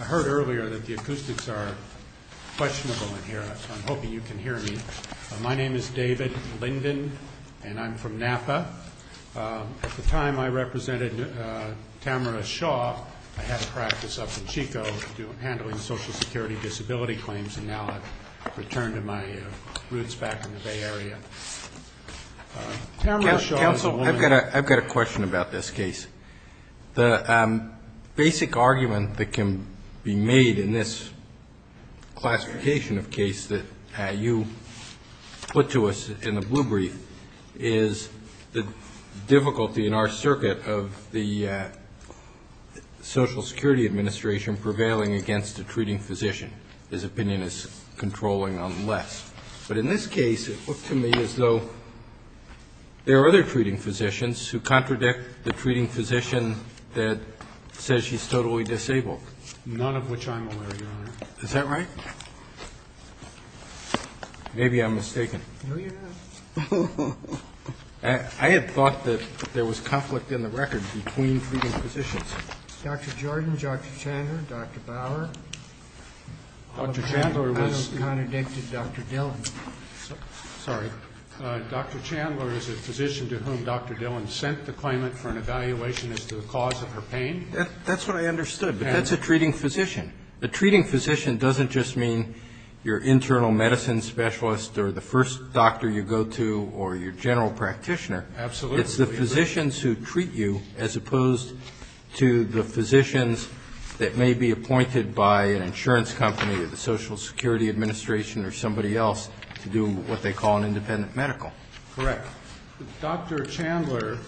I heard earlier that the acoustics are questionable in here, so I'm hoping you can hear me. My name is David Linden, and I'm from Napa. At the time I represented Tamara Shaw, I had social security disability claims, and now I've returned to my roots back in the Bay Area. I've got a question about this case. The basic argument that can be made in this classification of case that you put to us in the blue brief is the difficulty in our circuit of the Social With respect to minute three, it was on their accusationinteresting So that's a 졘They didn't understand that there was conflict in the record between cleaning physicians. But in this case, it looked to me as though there are other treating physicians who contradict the treating physician that said she's totally disabled. None of which I'm aware, Your Honor. Is that right? Maybe I'm mistaken. No, you're not. I had thought that there was conflict in the record between treating physicians. Dr. Jordan, Dr. Chandler, Dr. Bauer. I don't contradict Dr. Dillon. Sorry. Dr. Chandler is a physician to whom Dr. Dillon sent the claimant for an evaluation as to the cause of her pain. That's what I understood. But that's a treating physician. A treating physician doesn't just mean your internal medicine specialist or the first doctor you go to or your general practitioner. Absolutely. It's the physicians who treat you as opposed to the physicians that may be appointed by an insurance company or the Social Security Administration or somebody else to do what they call an independent medical. Correct. Dr. Chandler,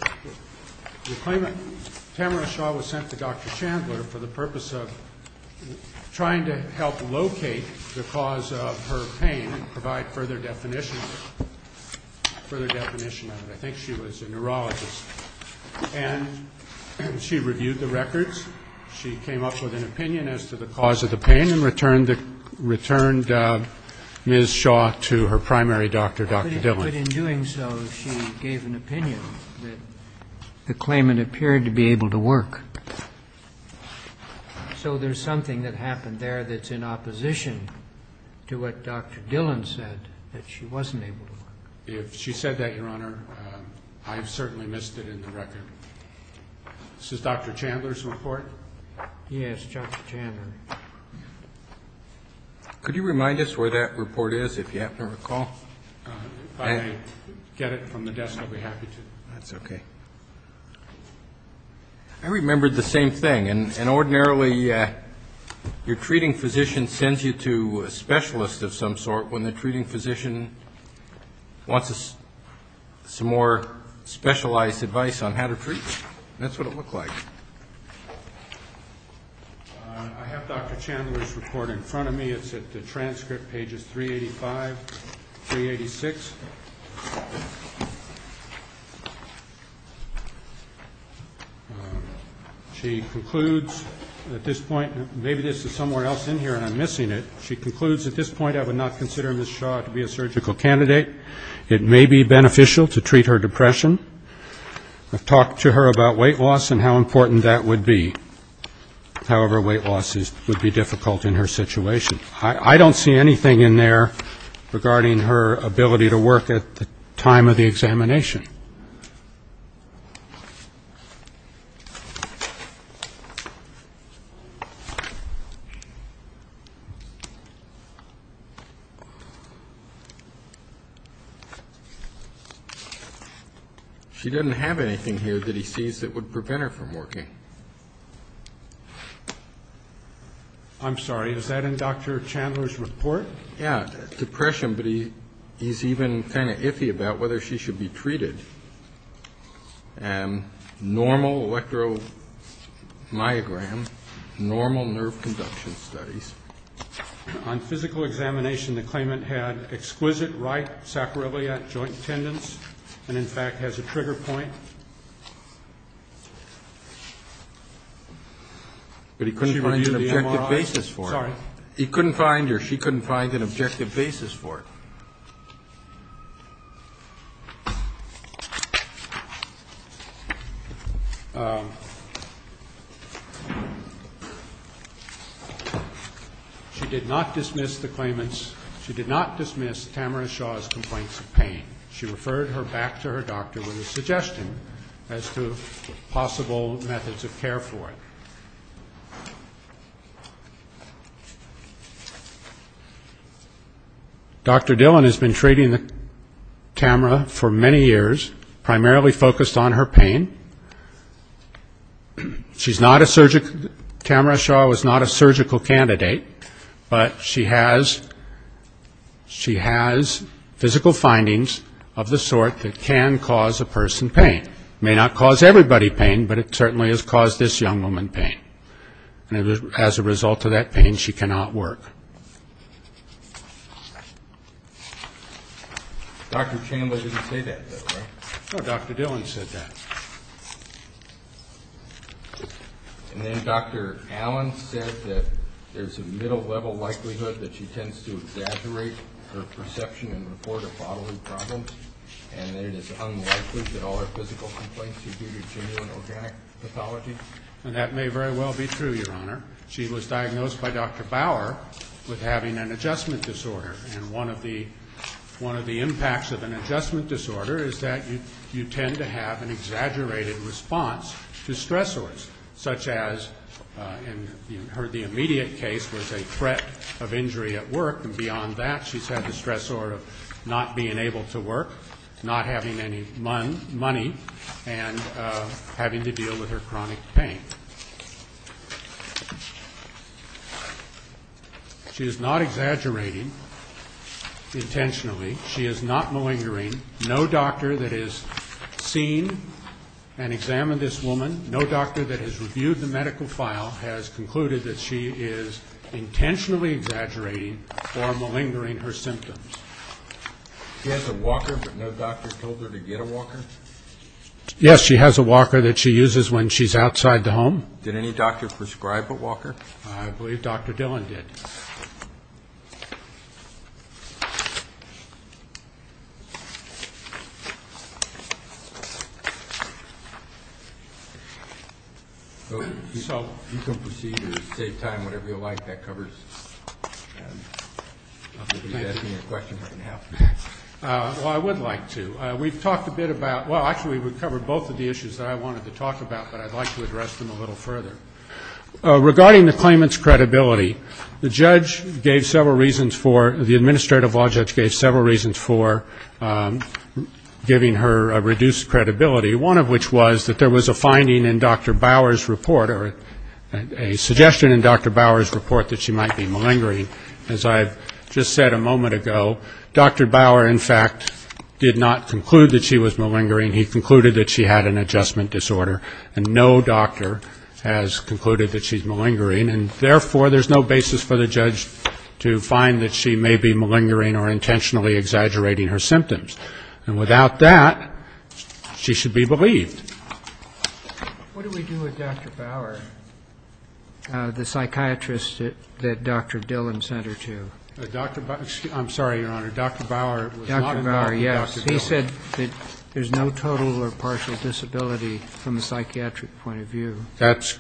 the claimant, Tamara Shaw, was sent to Dr. Chandler for the purpose of trying to help locate the cause of her pain and provide further definition of it. I think she was a neurologist. And she reviewed the records. She came up with an opinion as to the cause of the pain and returned Ms. Shaw to her primary doctor, Dr. Dillon. But in doing so, she gave an opinion that the claimant appeared to be able to work. So there's something that happened there that's in opposition to what Dr. Dillon said, that she wasn't able to work. If she said that, Your Honor, I've certainly missed it in the record. This is Dr. Chandler's report? Yes, Dr. Chandler. Could you remind us where that report is, if you happen to recall? If I get it from the desk, I'll be happy to. That's okay. I remembered the same thing. And ordinarily, your treating physician sends you to a specialist of some sort when the treating physician wants some more specialized advice on how to treat you. That's what it looked like. I have Dr. Chandler's report in front of me. It's at the transcript, pages 385, 386. She concludes at this point, maybe this is somewhere else in here and I'm missing it. She concludes, at this point, I would not consider Ms. Shaw to be a surgical candidate. It may be beneficial to treat her depression. I've talked to her about weight loss and how important that would be. However, weight loss would be difficult in her situation. I don't see anything in there regarding her ability to work at the time of the examination. She didn't have anything here that he sees that would prevent her from working. I'm sorry, is that in Dr. Chandler's report? Yeah, depression, but he's even kind of iffy about whether she should be treated. Normal electromyogram, normal nerve conduction studies. On physical examination, the claimant had exquisite right sacroiliac joint tendons, and in fact has a trigger point. But he couldn't find an objective basis for it. He couldn't find or she couldn't find an objective basis for it. She did not dismiss the claimant's, she did not dismiss Tamara Shaw's complaints of pain. She referred her back to her doctor with a suggestion as to possible methods of care for it. Dr. Dillon has been treating Tamara for many years, primarily focused on her pain. She's not a surgical, Tamara Shaw was not a surgical candidate, but she has physical findings of the sort that can cause a person pain. It may not cause everybody pain, but it certainly has caused this young woman pain. And as a result of that pain, she cannot work. Dr. Chandler didn't say that, did he? No, Dr. Dillon said that. And then Dr. Allen said that there's a middle-level likelihood that she tends to exaggerate her perception and report of bodily problems, and that it is unlikely that all her physical complaints are due to genuine organic pathology. And that may very well be true, Your Honor. She was diagnosed by Dr. Bauer with having an adjustment disorder, and one of the impacts of an adjustment disorder is that you tend to have an exaggerated response to stressors, such as in her immediate case was a threat of injury at work, and beyond that she's had the stressor of not being able to work, not having any money, and having to deal with her chronic pain. She is not exaggerating intentionally. She is not malingering. No doctor that has seen and examined this woman, no doctor that has reviewed the medical file has concluded that she is intentionally exaggerating or malingering her symptoms. She has a walker, but no doctor told her to get a walker? Yes, she has a walker that she uses when she's outside the home. Did any doctor prescribe a walker? I believe Dr. Dillon did. So you can proceed to save time, whatever you like. That covers it. You can ask me a question right now. Well, I would like to. We've talked a bit about, well, actually we've covered both of the issues that I wanted to talk about, but I'd like to address them a little further. Regarding the claimant's credibility, the judge gave several reasons for, the administrative law judge gave several reasons for giving her a reduced credibility, one of which was that there was a finding in Dr. Bauer's report or a suggestion in Dr. Bauer's report that she might be malingering. As I've just said a moment ago, Dr. Bauer, in fact, did not conclude that she was malingering. He concluded that she had an adjustment disorder, and no doctor has concluded that she's malingering. And therefore, there's no basis for the judge to find that she may be malingering or intentionally exaggerating her symptoms. And without that, she should be believed. What did we do with Dr. Bauer, the psychiatrist that Dr. Dillon sent her to? Dr. Bauer, excuse me, I'm sorry, Your Honor, Dr. Bauer was not involved with Dr. Dillon. He said that there's no total or partial disability from a psychiatric point of view. That's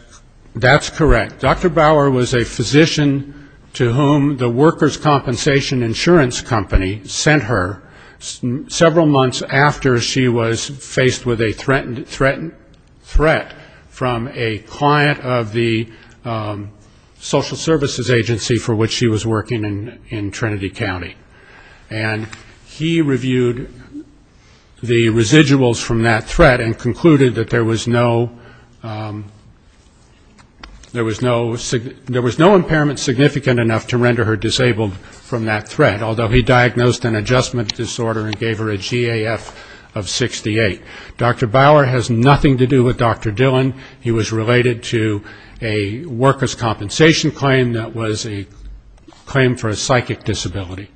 correct. Dr. Bauer was a physician to whom the workers' compensation insurance company sent her several months after she was faced with a threatened threat from a client of the social services agency for which she was working in Trinity County. And he reviewed the residuals from that threat and concluded that there was no impairment significant enough to render her disabled from that threat, although he diagnosed an adjustment disorder and gave her a GAF of 68. Dr. Bauer has nothing to do with Dr. Dillon. He was related to a workers' compensation claim that was a claim for a psychic disability.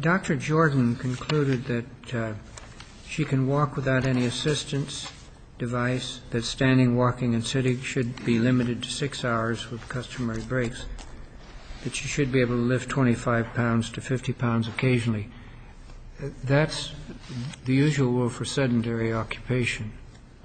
Dr. Jordan concluded that she can walk without any assistance device, that standing, walking, and sitting should be limited to six hours with customary breaks, that she should be able to lift 25 pounds to 50 pounds occasionally. That's the usual rule for sedentary occupation.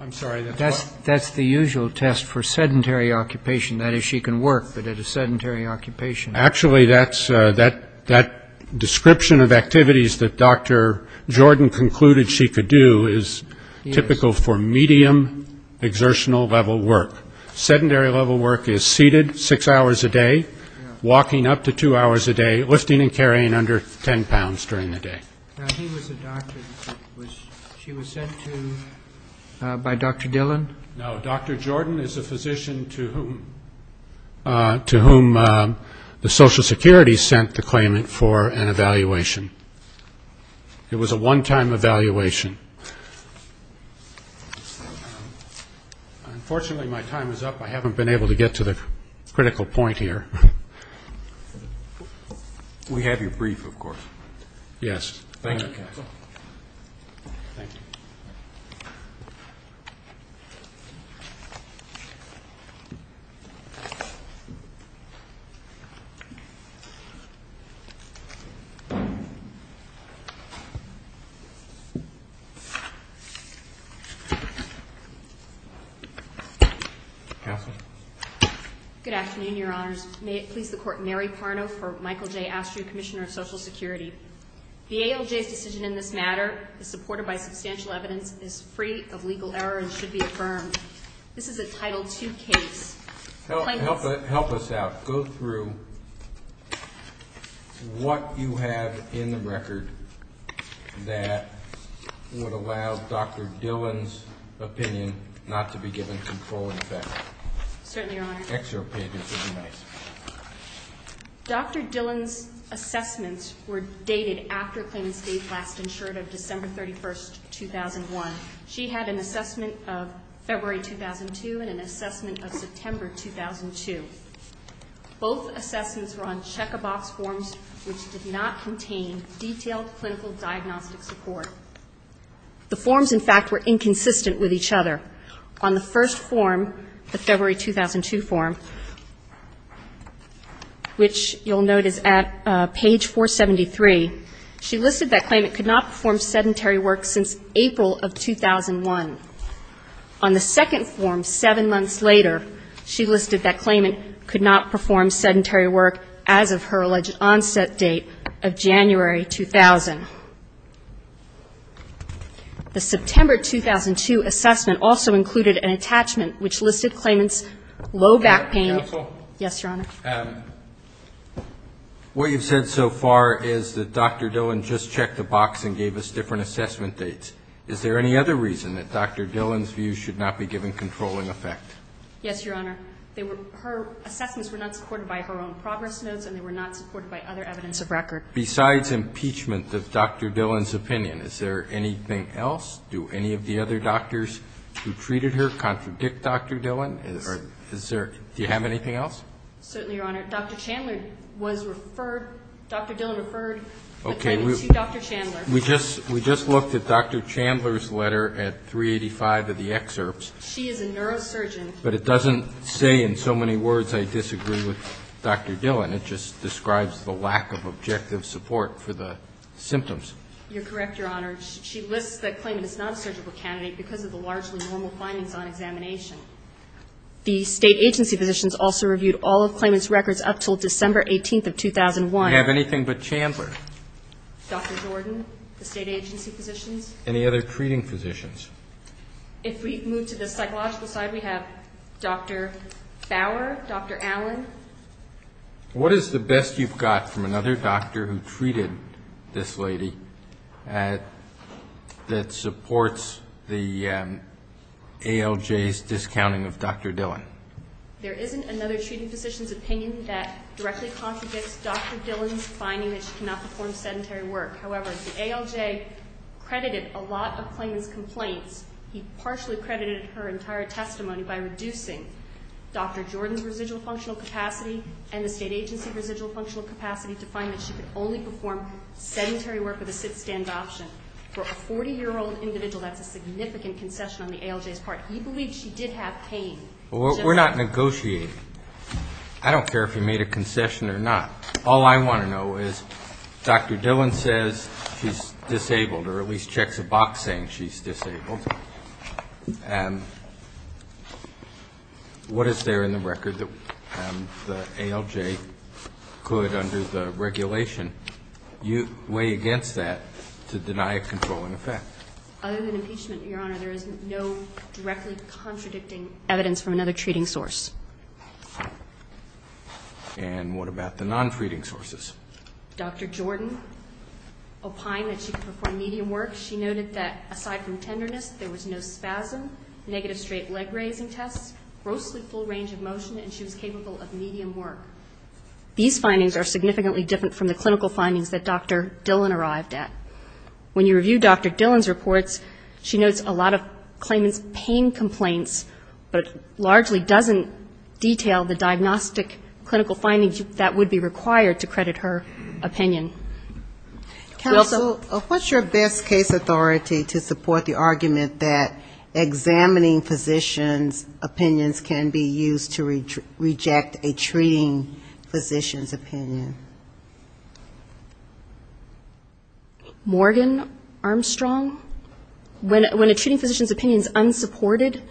I'm sorry, that's what? That's the usual test for sedentary occupation. That is, she can work, but at a sedentary occupation. Actually, that description of activities that Dr. Jordan concluded she could do is typical for medium exertional level work. Sedentary level work is seated six hours a day, walking up to two hours a day, lifting and carrying under 10 pounds during the day. Now, he was a doctor. She was sent to by Dr. Dillon? No, Dr. Jordan is a physician to whom the Social Security sent the claimant for an evaluation. It was a one-time evaluation. Unfortunately, my time is up. I haven't been able to get to the critical point here. We have your brief, of course. Yes. Thank you, Counsel. Counsel? Good afternoon, Your Honors. May it please the Court, Mary Parno for Michael J. Astrew, Commissioner of Social Security. The ALJ's decision in this matter is supported by substantial evidence, is free of legal error, and should be affirmed. This is a Title II case. Help us out. Go through what you have in the record that would allow Dr. Dillon's opinion Certainly, Your Honor. Excerpt pages would be nice. Dr. Dillon's assessments were dated after a claimant's date last insured of December 31, 2001. She had an assessment of February 2002 and an assessment of September 2002. Both assessments were on check-a-box forms which did not contain detailed clinical diagnostic support. The forms, in fact, were inconsistent with each other. On the first form, the February 2002 form, which you'll note is at page 473, she listed that claimant could not perform sedentary work since April of 2001. On the second form, seven months later, she listed that claimant could not perform sedentary work as of her alleged onset date of January 2000. The September 2002 assessment also included an attachment which listed claimant's low back pain. Counsel? Yes, Your Honor. What you've said so far is that Dr. Dillon just checked a box and gave us different assessment dates. Is there any other reason that Dr. Dillon's view should not be given controlling effect? Yes, Your Honor. Her assessments were not supported by her own progress notes, and they were not supported by other evidence of record. Besides impeachment of Dr. Dillon's opinion, is there anything else? Do any of the other doctors who treated her contradict Dr. Dillon? Do you have anything else? Certainly, Your Honor. Dr. Chandler was referred, Dr. Dillon referred the claimant to Dr. Chandler. We just looked at Dr. Chandler's letter at 385 of the excerpts. She is a neurosurgeon. But it doesn't say in so many words, I disagree with Dr. Dillon. It just describes the lack of objective support for the symptoms. You're correct, Your Honor. She lists the claimant as non-surgical candidate because of the largely normal findings on examination. The state agency physicians also reviewed all of claimant's records up until December 18th of 2001. Do you have anything but Chandler? Dr. Jordan, the state agency physicians. Any other treating physicians? If we move to the psychological side, we have Dr. Bower, Dr. Allen. What is the best you've got from another doctor who treated this lady that supports the ALJ's discounting of Dr. Dillon? There isn't another treating physician's opinion that directly contradicts Dr. Dillon's finding that she cannot perform sedentary work. However, the ALJ credited a lot of claimant's complaints. He partially credited her entire testimony by reducing Dr. Jordan's residual functional capacity and the state agency's residual functional capacity to find that she could only perform sedentary work with a sit-stand option. For a 40-year-old individual, that's a significant concession on the ALJ's part. He believes she did have pain. We're not negotiating. I don't care if he made a concession or not. All I want to know is, Dr. Dillon says she's disabled, or at least checks a box saying she's disabled. What is there in the record that the ALJ could, under the regulation, weigh against that to deny a controlling effect? Other than impeachment, Your Honor, there is no directly contradicting evidence from another treating source. And what about the non-treating sources? Dr. Jordan opined that she could perform medium work. She noted that, aside from tenderness, there was no spasm, negative straight leg raising tests, grossly full range of motion, and she was capable of medium work. These findings are significantly different from the clinical findings that Dr. Dillon arrived at. When you review Dr. Dillon's reports, she notes a lot of claimant's pain complaints, but largely doesn't detail the diagnostic clinical findings that would be required to credit her opinion. Counsel, what's your best case authority to support the argument that examining physician's opinions can be used to reject a treating physician's opinion? Morgan Armstrong? When a treating physician's opinion is unsupported,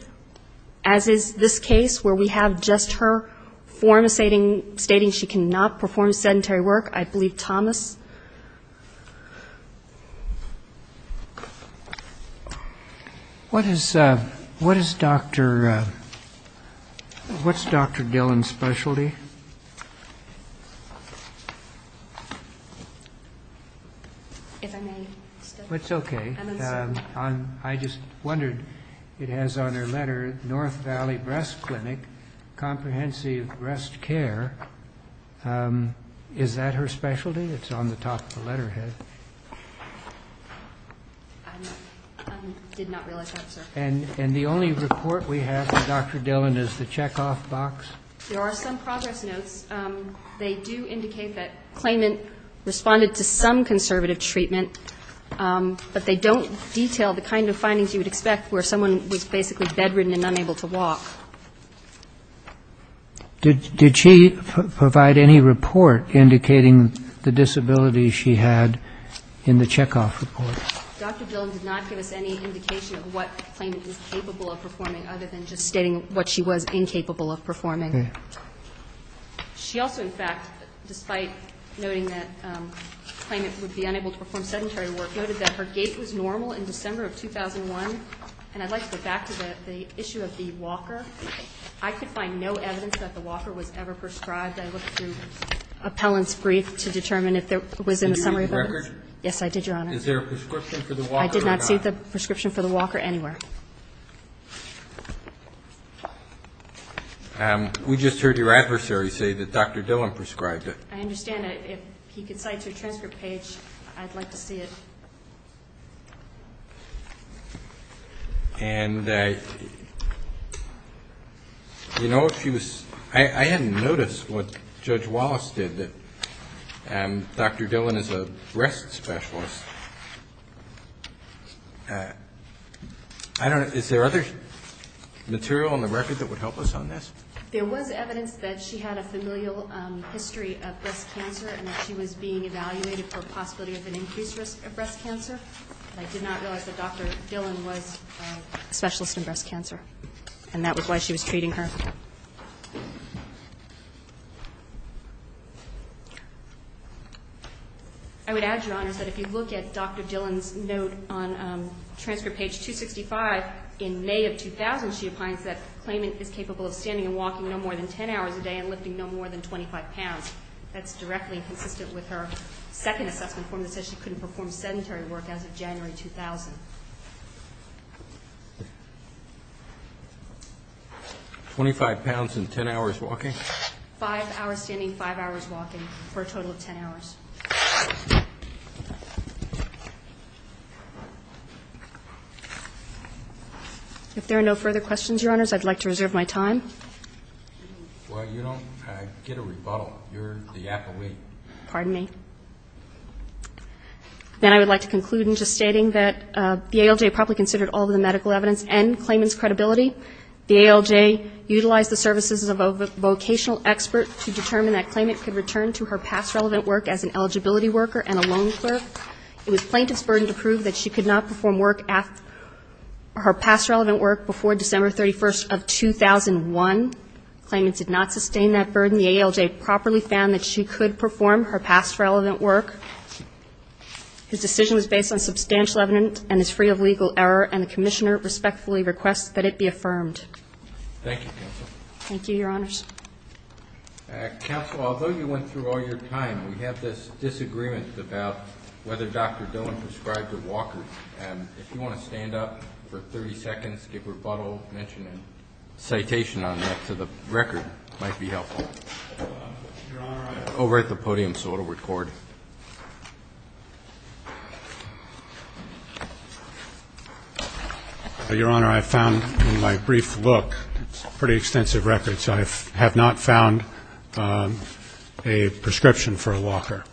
as is this case, where we have just her form of stating she cannot perform sedentary work, I believe Thomas. What is Dr. Dillon's specialty? I just wondered, it has on her letter, North Valley Breast Clinic, Comprehensive Breast Care. Is that her specialty? It's on the top of the letterhead. I did not realize that, sir. And the only report we have of Dr. Dillon is the checkoff box? In her address notes, they do indicate that claimant responded to some conservative treatment, but they don't detail the kind of findings you would expect where someone was basically bedridden and unable to walk. Did she provide any report indicating the disability she had in the checkoff report? Dr. Dillon did not give us any indication of what claimant was capable of performing, other than just stating what she was incapable of performing. She also, in fact, despite noting that claimant would be unable to perform sedentary work, noted that her gait was normal in December of 2001. And I'd like to go back to the issue of the walker. I could find no evidence that the walker was ever prescribed. I looked through appellant's brief to determine if there was any summary of evidence. Did you see the record? Yes, I did, Your Honor. Is there a prescription for the walker or not? I did not see the prescription for the walker anywhere. We just heard your adversary say that Dr. Dillon prescribed it. I understand. If he could cite your transcript page, I'd like to see it. And, you know, I hadn't noticed what Judge Wallace did. Dr. Dillon is a breast specialist. Is there other material in the record that would help us on this? There was evidence that she had a familial history of breast cancer and that she was being evaluated for a possibility of an increased risk of breast cancer. But I did not realize that Dr. Dillon was a specialist in breast cancer, and that was why she was treating her. I would add, Your Honor, that if you look at Dr. Dillon's note on transcript page 265, in May of 2000, she opines that claimant is capable of standing and walking no more than 10 hours a day and lifting no more than 25 pounds. That's directly consistent with her second assessment form that says she couldn't perform sedentary work as of January 2000. Twenty-five pounds and 10 hours walking? Five hours standing, five hours walking, for a total of 10 hours. If there are no further questions, Your Honors, I'd like to reserve my time. Well, you don't get a rebuttal. Pardon me. Then I would like to conclude in just stating that the ALJ probably considered all of the medical evidence and claimant's credibility. The ALJ utilized the services of a vocational expert to determine that claimant could return to her past relevant work as an eligibility worker and a loan clerk. It was plaintiff's burden to prove that she could not perform work at her past relevant work before December 31st of 2001. Claimant did not sustain that burden. The ALJ properly found that she could perform her past relevant work. His decision was based on substantial evidence and is free of legal error, and the Commissioner respectfully requests that it be affirmed. Thank you, Counsel. Thank you, Your Honors. Counsel, although you went through all your time, we have this disagreement about whether Dr. Dillon prescribed her walkers. If you want to stand up for 30 seconds, give rebuttal, mention a citation on that to the record, it might be helpful. Over at the podium so it will record. Your Honor, I found in my brief look pretty extensive records. I have not found a prescription for a walker.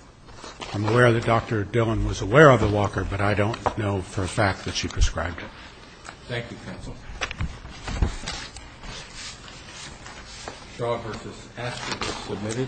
I'm aware that Dr. Dillon was aware of the walker, but I don't know for a fact that she prescribed it. Thank you, Counsel. Shaw v. Aspen is submitted. Thank you, Your Honor.